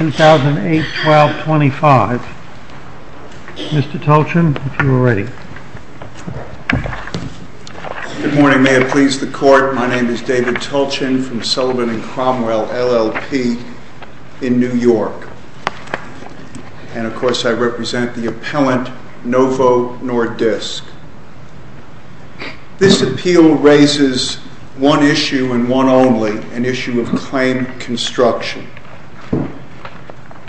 2008-12-25 Mr. Tulchin, if you are ready. Good morning, may it please the Court, my name is David Tulchin from Sullivan and Cromwell LLP in New York, and of course I represent the appellant Novo Nordisk. This appeal raises one issue and one only, an issue of claim construction.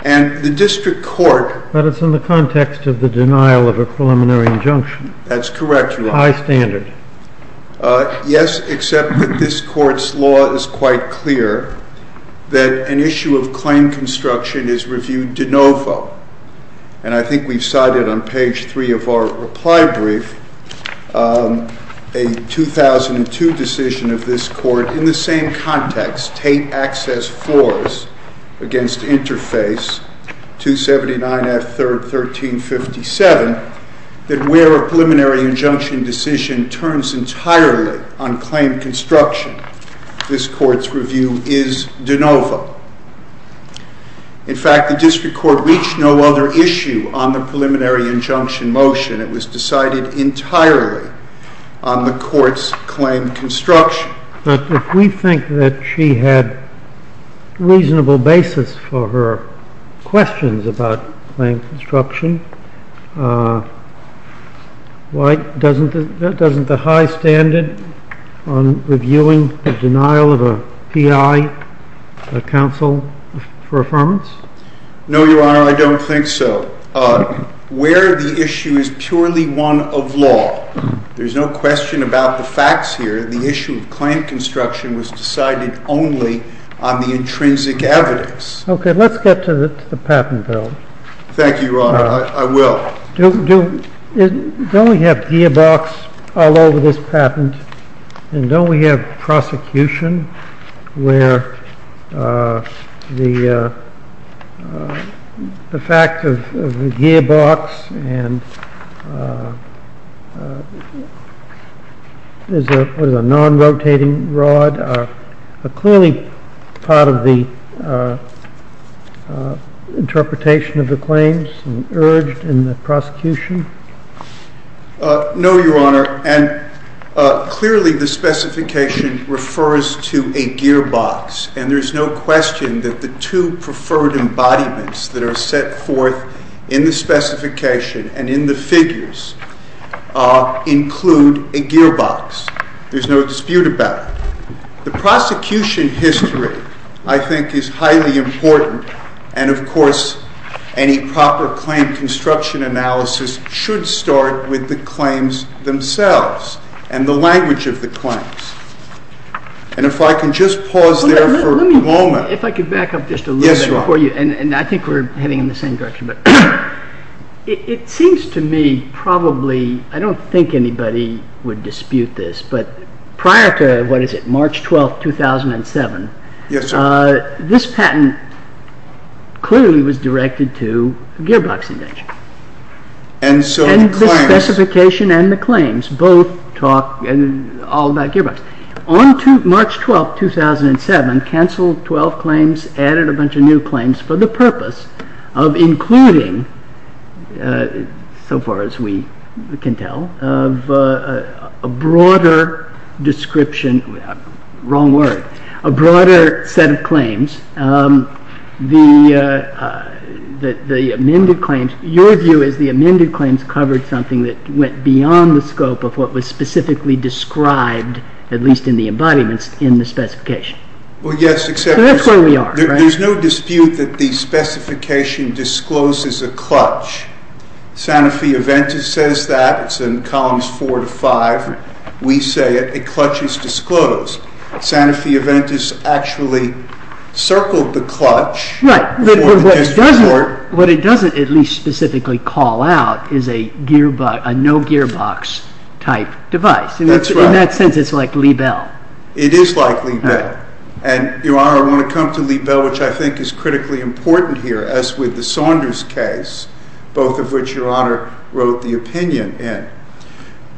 And the District Court- But it's in the context of the denial of a preliminary injunction. That's correct, Your Honor. High standard. Yes, except that this Court's law is quite clear that an issue of claim construction is reviewed de novo. And I think we've cited on page 3 of our reply brief a 2002 decision of this Court in the same context, State Access Floors Against Interface, 279 F. 3rd, 1357, that where a preliminary injunction decision turns entirely on claim construction, this Court's review is de novo. In fact, the District Court reached no other issue on the preliminary injunction motion. It was decided entirely on the Court's claim construction. But if we think that she had reasonable basis for her questions about claim construction, doesn't the high standard on reviewing the denial of a PI counsel for affirmance? No, Your Honor, I don't think so. Where the issue is purely one of law. There's no question about the facts here. The issue of claim construction was decided only on the intrinsic evidence. Okay, let's get to the patent bill. Thank you, Your Honor. I will. Don't we have gearbox all over this patent? And don't we have prosecution where the fact of the gearbox and the non-rotating rod are clearly part of the interpretation of the claims and urged in the prosecution? No, Your Honor, and clearly the specification refers to a gearbox. And there's no question that the two preferred embodiments that are set forth in the specification and in the figures include a gearbox. There's no dispute about it. The prosecution history, I think, is highly important. And, of course, any proper claim construction analysis should start with the claims themselves and the language of the claims. And if I can just pause there for a moment. Let me, if I could back up just a little bit before you. Yes, Your Honor. And I think we're heading in the same direction, but it seems to me probably, I don't think anybody would dispute this, but prior to, what is it, March 12, 2007, this patent clearly was directed to a gearbox invention. And so the claims... And the specification and the claims both talk all about gearbox. On March 12, 2007, canceled 12 claims, added a bunch of new claims for the purpose of including, so far as we can tell, of a broader description, wrong word, a broader set of claims. The amended claims, your view is the amended claims covered something that went beyond the scope of what was specifically described, at least in the embodiments, in the specification. Well, yes, except... So that's where we are, right? There's no dispute that the specification discloses a clutch. Sanofi Aventis says that. It's in columns four to five. We say it. A clutch is disclosed. Sanofi Aventis actually circled the clutch... Right. ...for the district court. What it doesn't at least specifically call out is a no-gearbox type device. That's right. In that sense, it's like Liebel. It is like Liebel. Right. And, your Honor, I want to come to Liebel, which I think is critically important here, as with the Saunders case, both of which your Honor wrote the opinion in.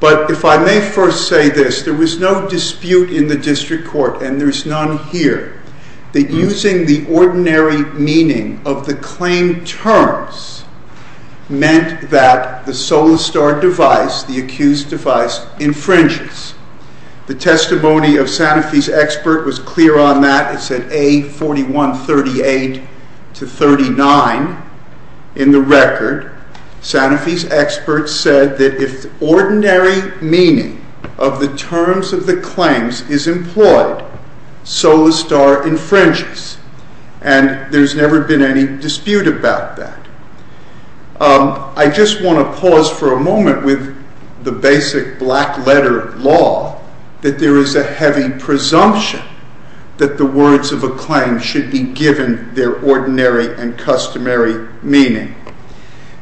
But if I may first say this, there was no dispute in the district court, and there's none here, that using the ordinary meaning of the claim terms meant that the Solastar device, the accused device, infringes. The testimony of Sanofi's expert was clear on that. It said A4138-39 in the record. Sanofi's expert said that if the ordinary meaning of the terms of the claims is employed, Solastar infringes, and there's never been any dispute about that. I just want to pause for a moment with the basic black-letter law, that there is a heavy presumption that the words of a claim should be given their ordinary and customary meaning,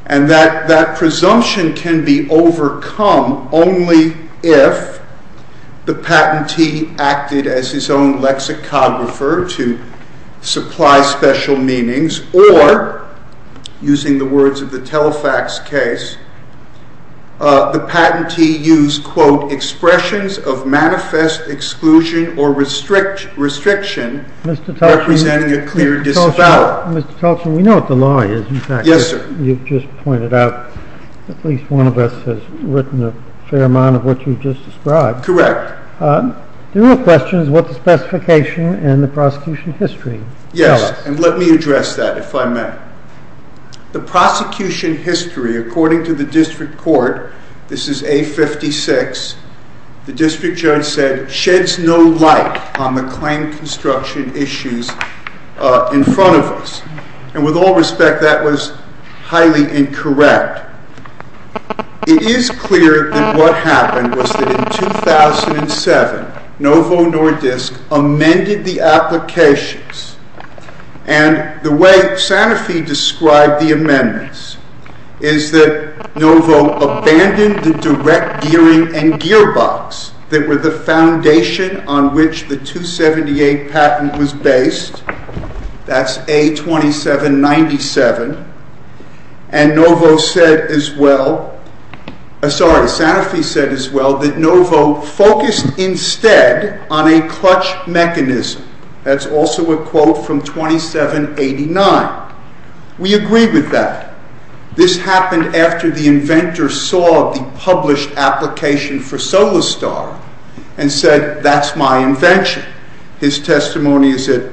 and that that presumption can be overcome only if the patentee acted as his own lexicographer to supply special meanings, or, using the words of the Telefax case, the patentee used, quote, expressions of manifest exclusion or restriction, representing a clear disavowal. Mr. Tolchin, we know what the law is, in fact. Yes, sir. You've just pointed out, at least one of us has written a fair amount of what you've just described. Correct. The real question is what the specification and the prosecution history tell us. Yes, and let me address that, if I may. The prosecution history, according to the district court, this is A-56, the district judge said, sheds no light on the claim construction issues in front of us, and with all respect, that was highly incorrect. It is clear that what happened was that in 2007, Novo Nordisk amended the applications, and the way Sanofi described the amendments is that Novo abandoned the direct gearing and gearbox that were the foundation on which the 278 patent was based, that's A-2797, and Novo said as well, sorry, Sanofi said as well that Novo focused instead on a clutch mechanism. That's also a quote from 2789. We agree with that. This happened after the inventor saw the published application for Solastar and said, that's my invention. His testimony is at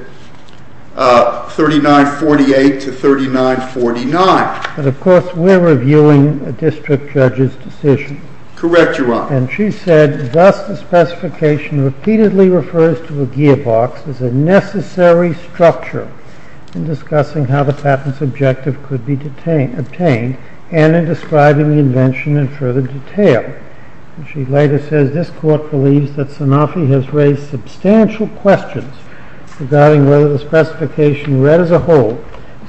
3948 to 3949. But of course, we're reviewing a district judge's decision. Correct, Your Honor. And she said, thus the specification repeatedly refers to a gearbox as a necessary structure in discussing how the patent's objective could be obtained and in describing the invention in further detail. She later says, this court believes that Sanofi has raised substantial questions regarding whether the specification read as a whole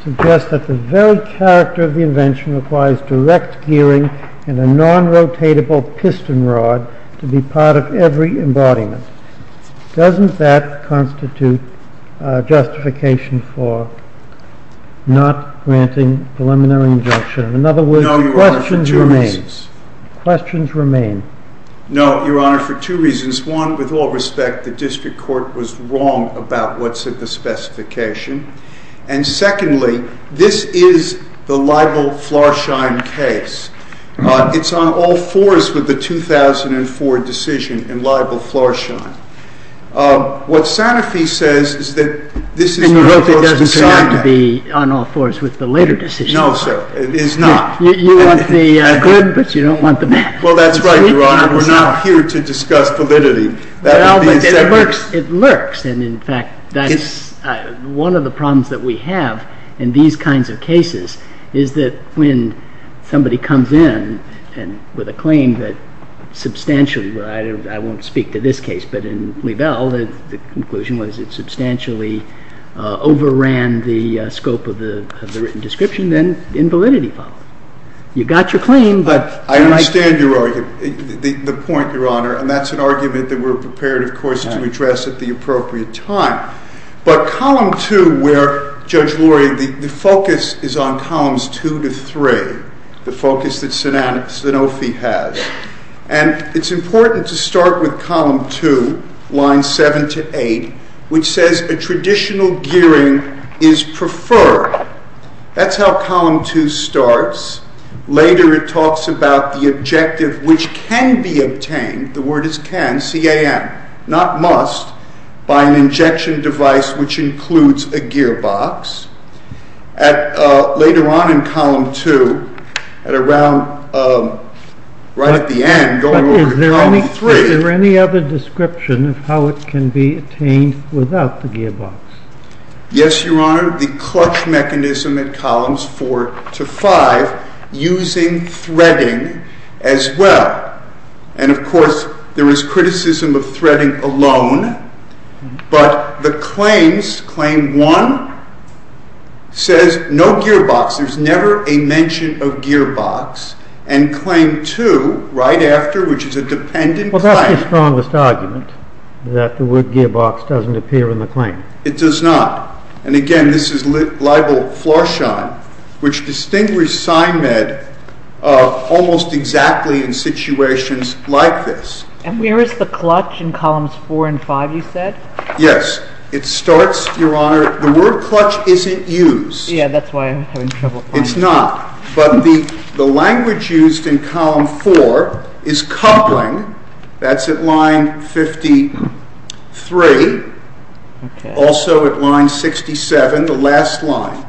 suggests that the very character of the invention requires direct gearing and a non-rotatable piston rod to be part of every embodiment. Doesn't that constitute justification for not granting preliminary injunction? In other words, questions remain. No, Your Honor, for two reasons. Questions remain. No, Your Honor, for two reasons. One, with all respect, the district court was wrong about what's in the specification. And secondly, this is the libel-Florschein case. It's on all fours with the 2004 decision in libel-Florschein. What Sanofi says is that this is a court's assignment. And you hope it doesn't turn out to be on all fours with the later decision. No, sir. It is not. You want the good, but you don't want the bad. Well, that's right, Your Honor. We're not here to discuss validity. Well, but it lurks. And in fact, one of the problems that we have in these kinds of cases is that when somebody comes in with a claim that substantially, I won't speak to this case, but in libel, the conclusion was it substantially overran the scope of the written description, then invalidity followed. You got your claim, but— I understand the point, Your Honor. And that's an argument that we're prepared, of course, to address at the appropriate time. But Column 2, where, Judge Lori, the focus is on Columns 2 to 3, the focus that Sanofi has. And it's important to start with Column 2, Lines 7 to 8, which says a traditional gearing is preferred. That's how Column 2 starts. Later it talks about the objective which can be obtained, the word is can, C-A-N, not must, by an injection device which includes a gearbox. Later on in Column 2, right at the end, going over to Column 3— But is there any other description of how it can be obtained without the gearbox? Yes, Your Honor. The clutch mechanism at Columns 4 to 5 using threading as well. And, of course, there is criticism of threading alone. But the claims, Claim 1, says no gearbox. There's never a mention of gearbox. And Claim 2, right after, which is a dependent claim— Well, that's the strongest argument, that the word gearbox doesn't appear in the claim. It does not. And, again, this is libel flarshine, which distinguished SINED almost exactly in situations like this. And where is the clutch in Columns 4 and 5, you said? Yes. It starts, Your Honor—the word clutch isn't used. Yeah, that's why I'm having trouble finding it. It's not. But the language used in Column 4 is coupling. That's at Line 53. Also at Line 67, the last line.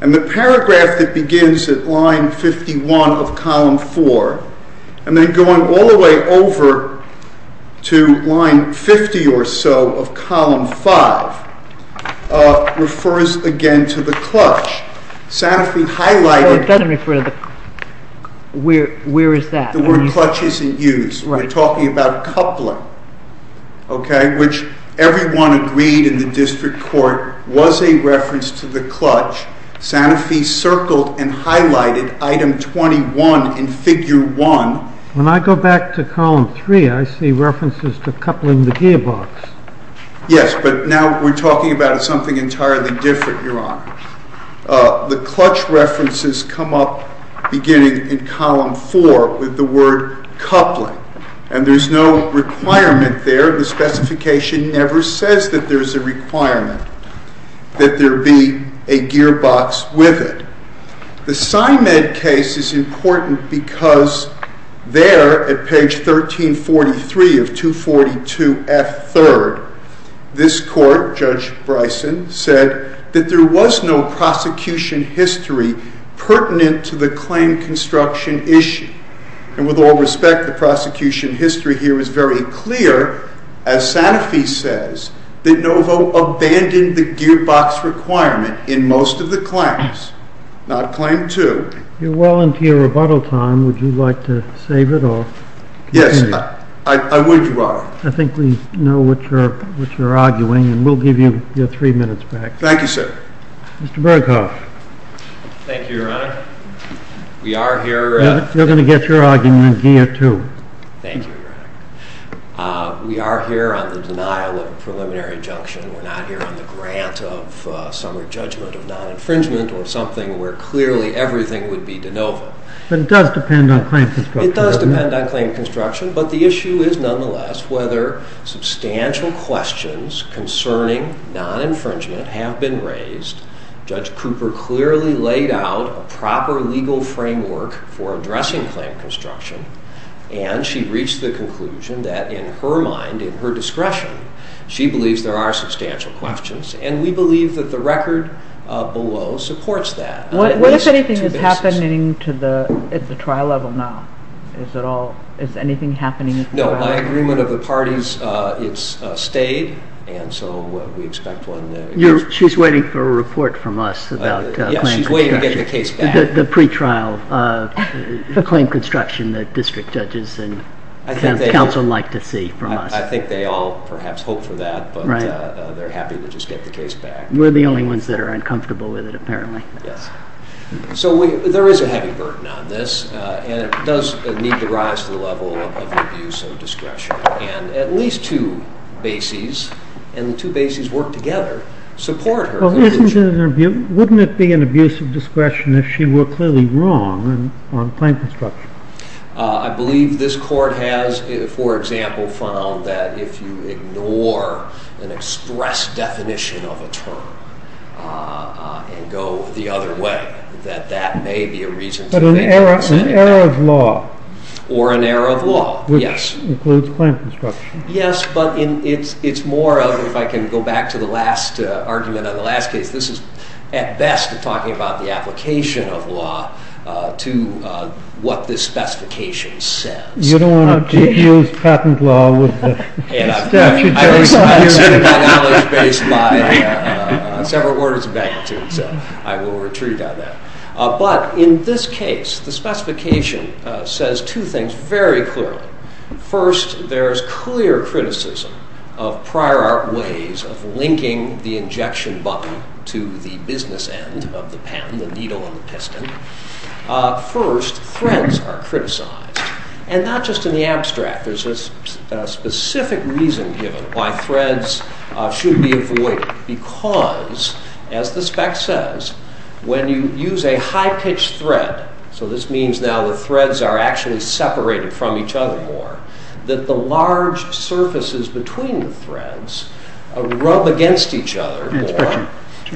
And the paragraph that begins at Line 51 of Column 4, and then going all the way over to Line 50 or so of Column 5, refers again to the clutch. Sanofi highlighted— Oh, it doesn't refer to the—where is that? The word clutch isn't used. Right. We're talking about coupling, okay, which everyone agreed in the district court was a reference to the clutch. Sanofi circled and highlighted Item 21 in Figure 1. When I go back to Column 3, I see references to coupling the gearbox. Yes, but now we're talking about something entirely different, Your Honor. The clutch references come up beginning in Column 4 with the word coupling, and there's no requirement there. The specification never says that there's a requirement that there be a gearbox with it. The Symed case is important because there at page 1343 of 242F3rd, this court, Judge Bryson, said that there was no prosecution history pertinent to the claim construction issue. And with all respect, the prosecution history here is very clear, as Sanofi says, that Novo abandoned the gearbox requirement in most of the claims, not Claim 2. If you'll volunteer rebuttal time, would you like to save it or continue? Yes, I would, Your Honor. I think we know what you're arguing, and we'll give you your three minutes back. Thank you, sir. Mr. Berghoff. Thank you, Your Honor. We are here— You're going to get your argument in GIA 2. Thank you, Your Honor. We are here on the denial of a preliminary injunction. We're not here on the grant of summary judgment of non-infringement or something where clearly everything would be de novo. But it does depend on claim construction, doesn't it? It does depend on claim construction, but the issue is nonetheless whether substantial questions concerning non-infringement have been raised. Judge Cooper clearly laid out a proper legal framework for addressing claim construction, and she reached the conclusion that in her mind, in her discretion, she believes there are substantial questions, and we believe that the record below supports that. What if anything is happening at the trial level now? Is anything happening at the trial level? No, by agreement of the parties, it's stayed, and so we expect when— She's waiting for a report from us about claim construction. Yes, she's waiting to get the case back. The pretrial claim construction that district judges and counsel like to see from us. I think they all perhaps hope for that, but they're happy to just get the case back. We're the only ones that are uncomfortable with it, apparently. Yes. So there is a heavy burden on this, and it does need to rise to the level of abuse of discretion. And at least two bases, and the two bases work together, support her. Well, wouldn't it be an abuse of discretion if she were clearly wrong on claim construction? I believe this Court has, for example, found that if you ignore an express definition of a term and go the other way, that that may be a reason to— But an error of law. Or an error of law, yes. Includes claim construction. Yes, but it's more of, if I can go back to the last argument on the last case, this is at best talking about the application of law to what this specification says. You don't want to abuse patent law with the statute. I respect that knowledge based on several orders of magnitude, so I will retreat on that. But in this case, the specification says two things very clearly. First, there is clear criticism of prior art ways of linking the injection button to the business end of the pen, the needle and the piston. First, threads are criticized. And not just in the abstract. There's a specific reason given why threads should be avoided. Because, as the spec says, when you use a high-pitched thread, so this means now the threads are actually separated from each other more, that the large surfaces between the threads rub against each other more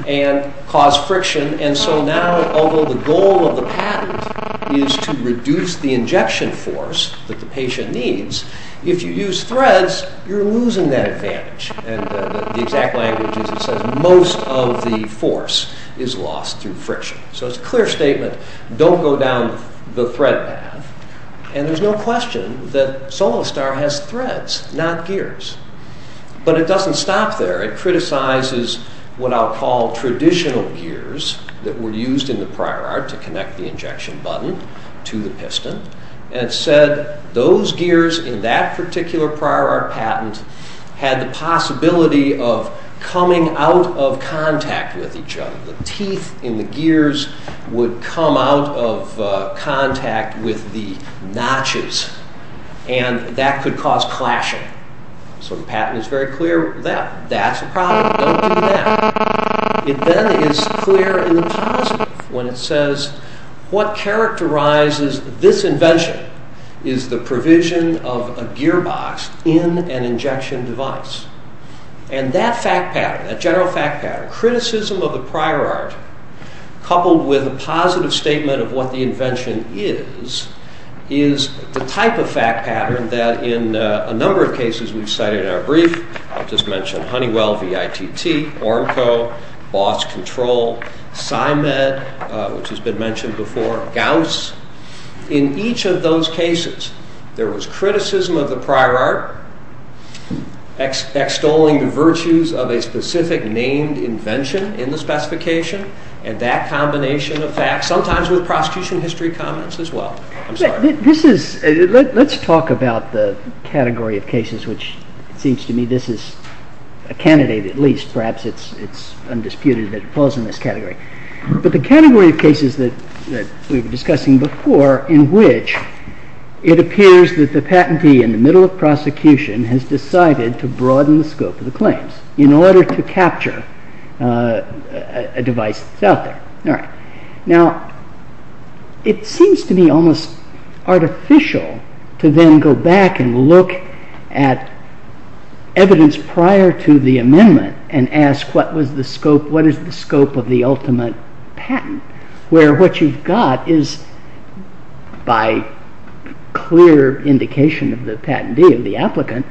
and cause friction. And so now, although the goal of the patent is to reduce the injection force that the patient needs, if you use threads, you're losing that advantage. And the exact language is it says most of the force is lost through friction. So it's a clear statement. Don't go down the thread path. And there's no question that SoloStar has threads, not gears. But it doesn't stop there. It criticizes what I'll call traditional gears that were used in the prior art to connect the injection button to the piston. And it said those gears in that particular prior art patent had the possibility of coming out of contact with each other. The teeth in the gears would come out of contact with the notches. And that could cause clashing. So the patent is very clear that that's a problem. Don't do that. It then is clear in the positive when it says what characterizes this invention is the provision of a gearbox in an injection device. And that fact pattern, that general fact pattern, criticism of the prior art, coupled with a positive statement of what the invention is, is the type of fact pattern that in a number of cases we've cited in our brief, I'll just mention Honeywell, VITT, Ornco, Boss Control, Scimed, which has been mentioned before, Gauss. In each of those cases, there was criticism of the prior art, extolling the virtues of a specific named invention in the specification, and that combination of facts, sometimes with prosecution history comments as well. Let's talk about the category of cases, which it seems to me this is a candidate at least. Perhaps it's undisputed that it falls in this category. But the category of cases that we were discussing before, in which it appears that the patentee in the middle of prosecution has decided to broaden the scope of the claims in order to capture a device that's out there. Now, it seems to me almost artificial to then go back and look at evidence prior to the amendment and ask what is the scope of the ultimate patent, where what you've got is, by clear indication of the patentee, of the applicant,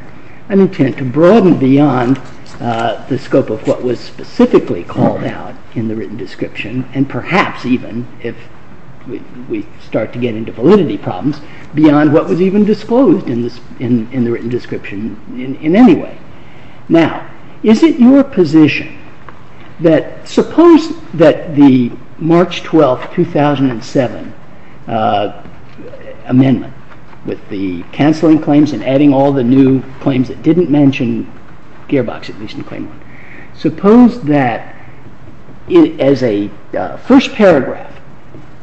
an intent to broaden beyond the scope of what was specifically called out in the written description, and perhaps even, if we start to get into validity problems, beyond what was even disclosed in the written description in any way. Now, is it your position that suppose that the March 12, 2007 amendment, with the cancelling claims and adding all the new claims that didn't mention Gearbox, at least in claim one, suppose that, as a first paragraph,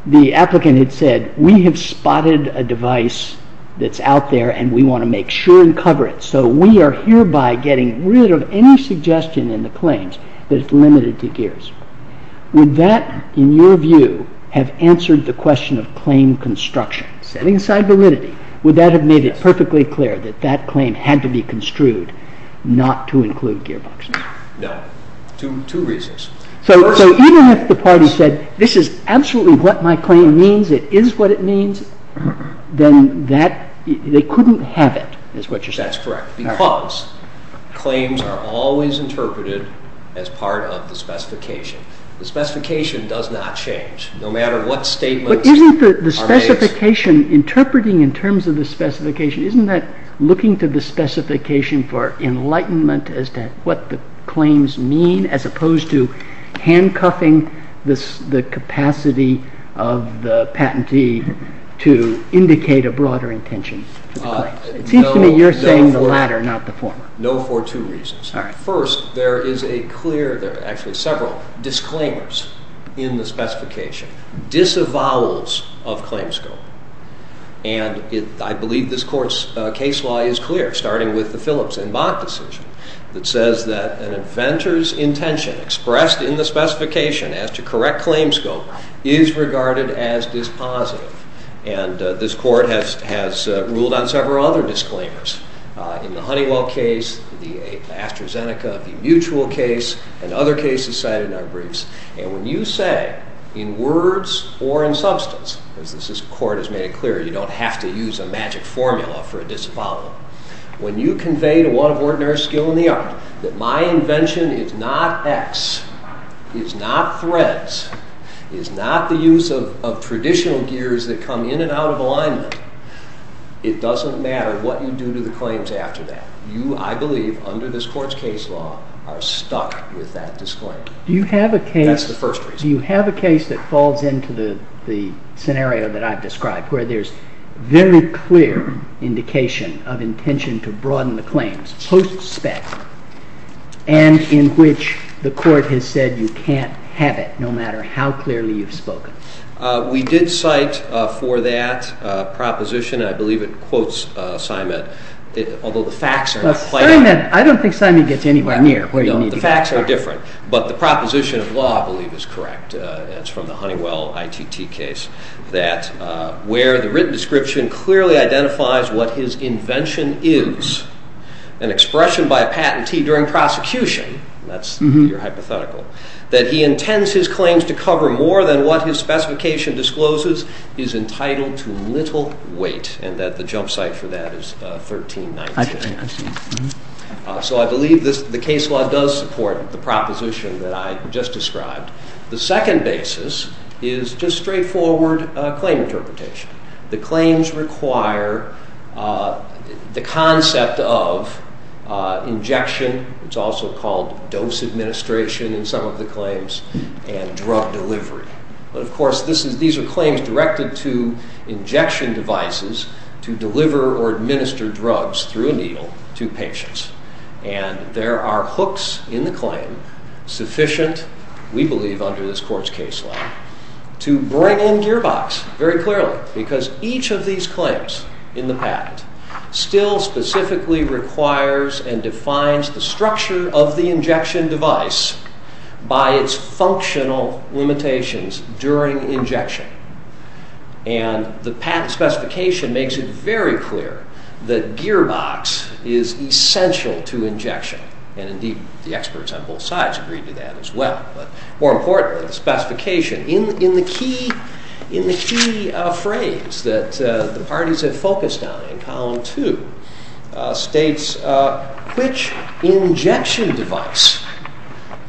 the applicant had said, we have spotted a device that's out there and we want to make sure and cover it, so we are hereby getting rid of any suggestion in the claims that it's limited to Gears. Would that, in your view, have answered the question of claim construction? Setting aside validity, would that have made it perfectly clear that that claim had to be construed not to include Gearbox? No. Two reasons. So even if the party said, this is absolutely what my claim means, it is what it means, then they couldn't have it, is what you're saying. That's correct, because claims are always interpreted as part of the specification. The specification does not change, no matter what statements are made. Interpretation, interpreting in terms of the specification, isn't that looking to the specification for enlightenment as to what the claims mean, as opposed to handcuffing the capacity of the patentee to indicate a broader intention? It seems to me you're saying the latter, not the former. No, for two reasons. First, there is a clear, actually several, disclaimers in the specification, disavowals of claims scope. And I believe this Court's case law is clear, starting with the Phillips and Bach decision, that says that an inventor's intention expressed in the specification as to correct claims scope is regarded as dispositive. And this Court has ruled on several other disclaimers. In the Honeywell case, the AstraZeneca, the Mutual case, and other cases cited in our briefs. And when you say in words or in substance, as this Court has made it clear, you don't have to use a magic formula for a disavowal, when you convey to one of ordinary skill in the art that my invention is not X, is not threads, is not the use of traditional gears that come in and out of alignment, it doesn't matter what you do to the claims after that. You, I believe, under this Court's case law, are stuck with that disclaimer. Do you have a case... That's the first reason. Do you have a case that falls into the scenario that I've described, where there's very clear indication of intention to broaden the claims, post-spec, and in which the Court has said you can't have it, no matter how clearly you've spoken? We did cite for that proposition, and I believe it quotes Simon, although the facts are not quite... Simon, I don't think Simon gets anywhere near where you need to go. The facts are different, but the proposition of law, I believe, is correct, and it's from the Honeywell ITT case, that where the written description clearly identifies what his invention is, an expression by a patentee during prosecution, that's your hypothetical, that he intends his claims to cover more than what his specification discloses, is entitled to little weight, and that the jump site for that is 1319. So I believe the case law does support the proposition that I just described. The second basis is just straightforward claim interpretation. The claims require the concept of injection, it's also called dose administration in some of the claims, and drug delivery. But, of course, these are claims directed to injection devices to deliver or administer drugs through a needle to patients. And there are hooks in the claim, sufficient, we believe, under this court's case law, to bring in gearbox, very clearly, because each of these claims in the patent still specifically requires and defines the structure of the injection device by its functional limitations during injection. And the patent specification makes it very clear that gearbox is essential to injection. And, indeed, the experts on both sides agreed to that as well. But, more importantly, the specification, in the key phrase that the parties have focused on in column two, states, which injection device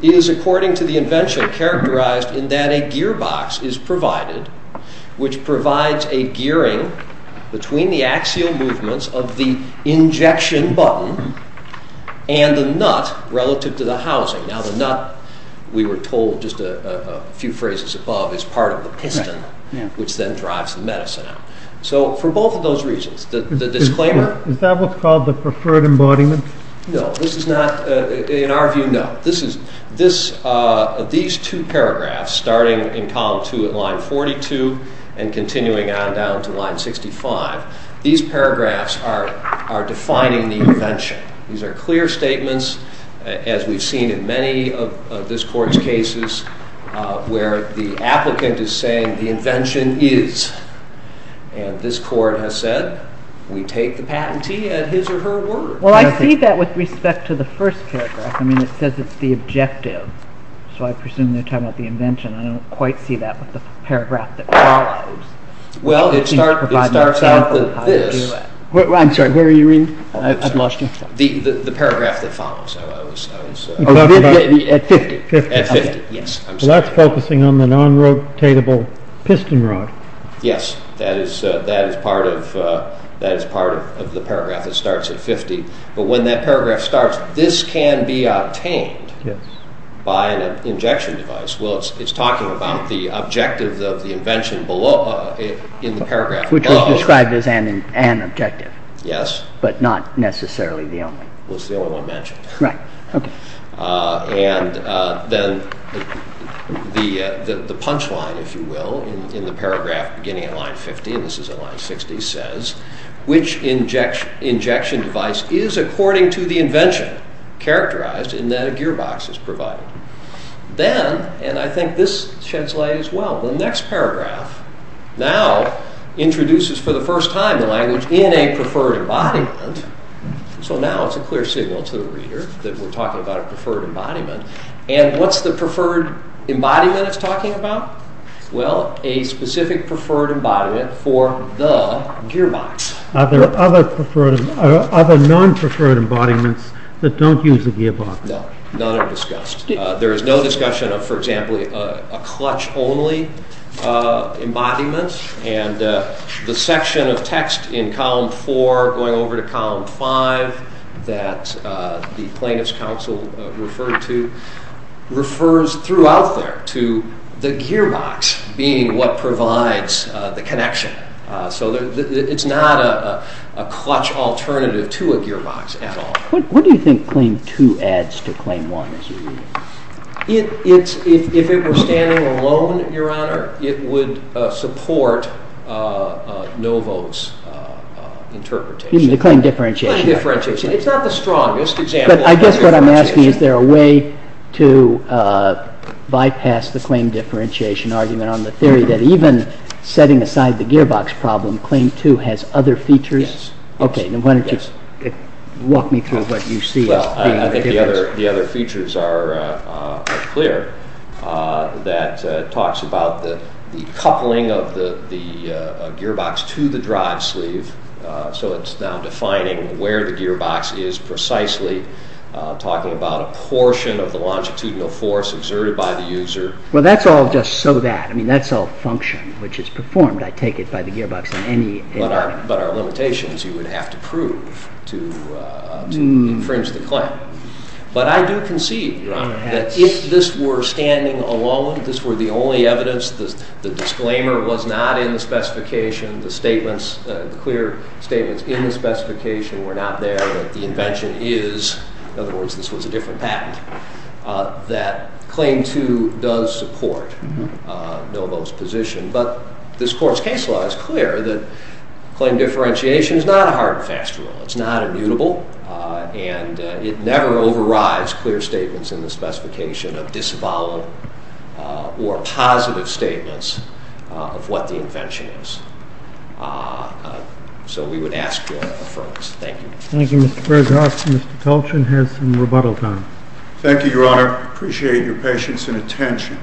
is, according to the invention, characterized in that a gearbox is provided, which provides a gearing between the axial movements of the injection button and the nut relative to the housing. Now, the nut, we were told just a few phrases above, is part of the piston, which then drives the medicine out. So, for both of those reasons, the disclaimer... Is that what's called the preferred embodiment? No, this is not, in our view, no. These two paragraphs, starting in column two at line 42 and continuing on down to line 65, these paragraphs are defining the invention. These are clear statements, as we've seen in many of this Court's cases, where the applicant is saying, the invention is. And this Court has said, we take the patentee at his or her word. Well, I see that with respect to the first paragraph. I mean, it says it's the objective, so I presume they're talking about the invention. I don't quite see that with the paragraph that follows. Well, it starts out with this. I'm sorry, where are you reading? I've lost you. The paragraph that follows. At 50? At 50, yes. So that's focusing on the non-rotatable piston rod. Yes, that is part of the paragraph that starts at 50. But when that paragraph starts, this can be obtained by an injection device. Well, it's talking about the objective of the invention in the paragraph below. Which was described as an objective. Yes. But not necessarily the only. Well, it's the only one mentioned. Right, okay. And then the punchline, if you will, in the paragraph beginning at line 50, and this is at line 60, says, which injection device is, according to the invention, characterized in that a gearbox is provided. Then, and I think this sheds light as well, the next paragraph now introduces for the first time the language in a preferred embodiment. So now it's a clear signal to the reader that we're talking about a preferred embodiment. And what's the preferred embodiment it's talking about? Well, a specific preferred embodiment for the gearbox. Are there other non-preferred embodiments that don't use the gearbox? No, none are discussed. There is no discussion of, for example, a clutch-only embodiment. And the section of text in column 4 going over to column 5 that the plaintiff's counsel referred to refers throughout there to the gearbox being what provides the connection. So it's not a clutch alternative to a gearbox at all. What do you think claim 2 adds to claim 1, as you read it? If it were standing alone, Your Honor, it would support Novo's interpretation. The claim differentiation. The claim differentiation. It's not the strongest example. But I guess what I'm asking is there a way to bypass the claim differentiation argument on the theory that even setting aside the gearbox problem, claim 2 has other features? Yes. Okay. Why don't you walk me through what you see as being the difference. Well, I think the other features are clear. That talks about the coupling of the gearbox to the drive sleeve. So it's now defining where the gearbox is precisely, talking about a portion of the longitudinal force exerted by the user. Well, that's all just so that. I mean, that's all function, which is performed, I take it, by the gearbox in any environment. But our limitation is you would have to prove to infringe the claim. But I do concede that if this were standing alone, if this were the only evidence, the disclaimer was not in the specification, the statements, the clear statements in the specification were not there, that the invention is, in other words, this was a different patent, that claim 2 does support Novo's position. But this court's case law is clear that claim differentiation is not a hard and fast rule. It's not immutable. And it never overrides clear statements in the specification of disavowal or positive statements of what the invention is. So we would ask your affirmation. Thank you. Thank you, Mr. Berghoff. Mr. Colchin has some rebuttal time. Thank you, Your Honor. I appreciate your patience and attention.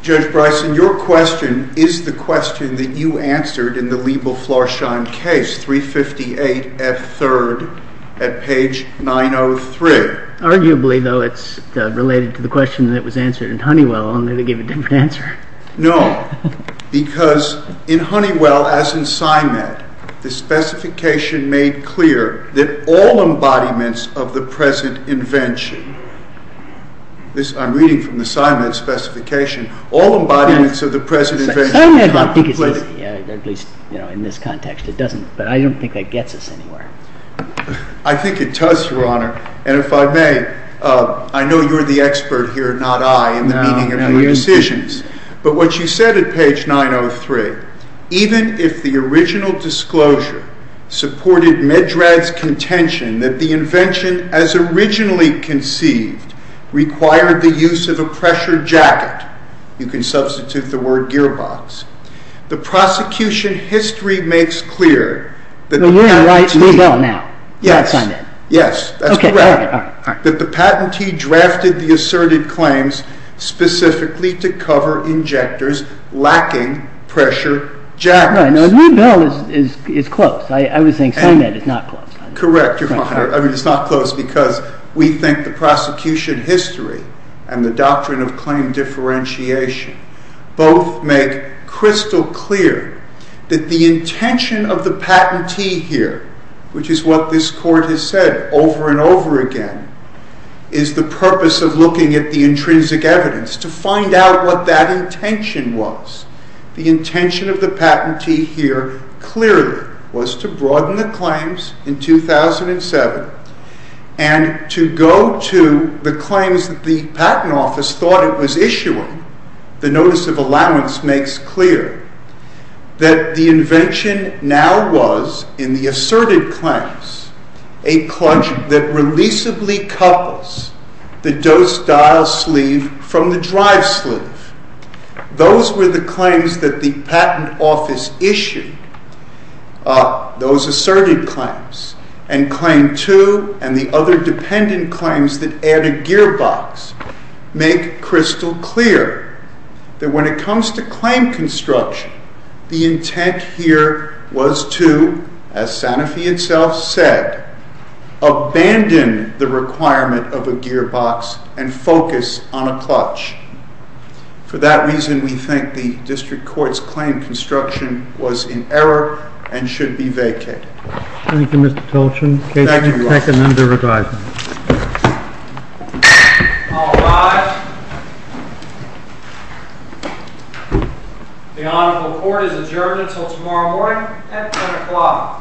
Judge Bryson, your question is the question that you answered in the Liebel-Florschein case, 358F3rd at page 903. Arguably, though, it's related to the question that was answered in Honeywell, only they gave a different answer. No, because in Honeywell, as in Symed, the specification made clear that all embodiments of the present invention, I'm reading from the Symed specification, all embodiments of the present invention Symed, I think it says, at least in this context, but I don't think that gets us anywhere. I think it does, Your Honor. And if I may, I know you're the expert here, not I, in the meaning of your decisions. But what you said at page 903, even if the original disclosure supported Medrad's contention that the invention as originally conceived required the use of a pressure jacket, you can substitute the word gearbox, the prosecution history makes clear Well, you're on Liebel now, not Symed. Yes, that's correct. That the patentee drafted the asserted claims specifically to cover injectors lacking pressure jackets. Now, Liebel is close. I was saying Symed is not close. Correct, Your Honor. I mean, it's not close because we think the prosecution history and the doctrine of claim differentiation both make crystal clear that the intention of the patentee here, which is what this court has said over and over again, is the purpose of looking at the intrinsic evidence to find out what that intention was. The intention of the patentee here clearly was to broaden the claims in 2007 and to go to the claims that the patent office thought it was issuing the notice of allowance makes clear that the invention now was, in the asserted claims, a clutch that releasably couples the dose dial sleeve from the drive sleeve. Those were the claims that the patent office issued, those asserted claims, and claim two and the other dependent claims that add a gearbox make crystal clear that when it comes to claim construction, the intent here was to, as Sanofi itself said, abandon the requirement of a gearbox and focus on a clutch. For that reason, we think the district court's claim construction was in error and should be vacated. Thank you, Your Honor. I commend the review. All rise. The Honorable Court is adjourned until tomorrow morning at 10 o'clock.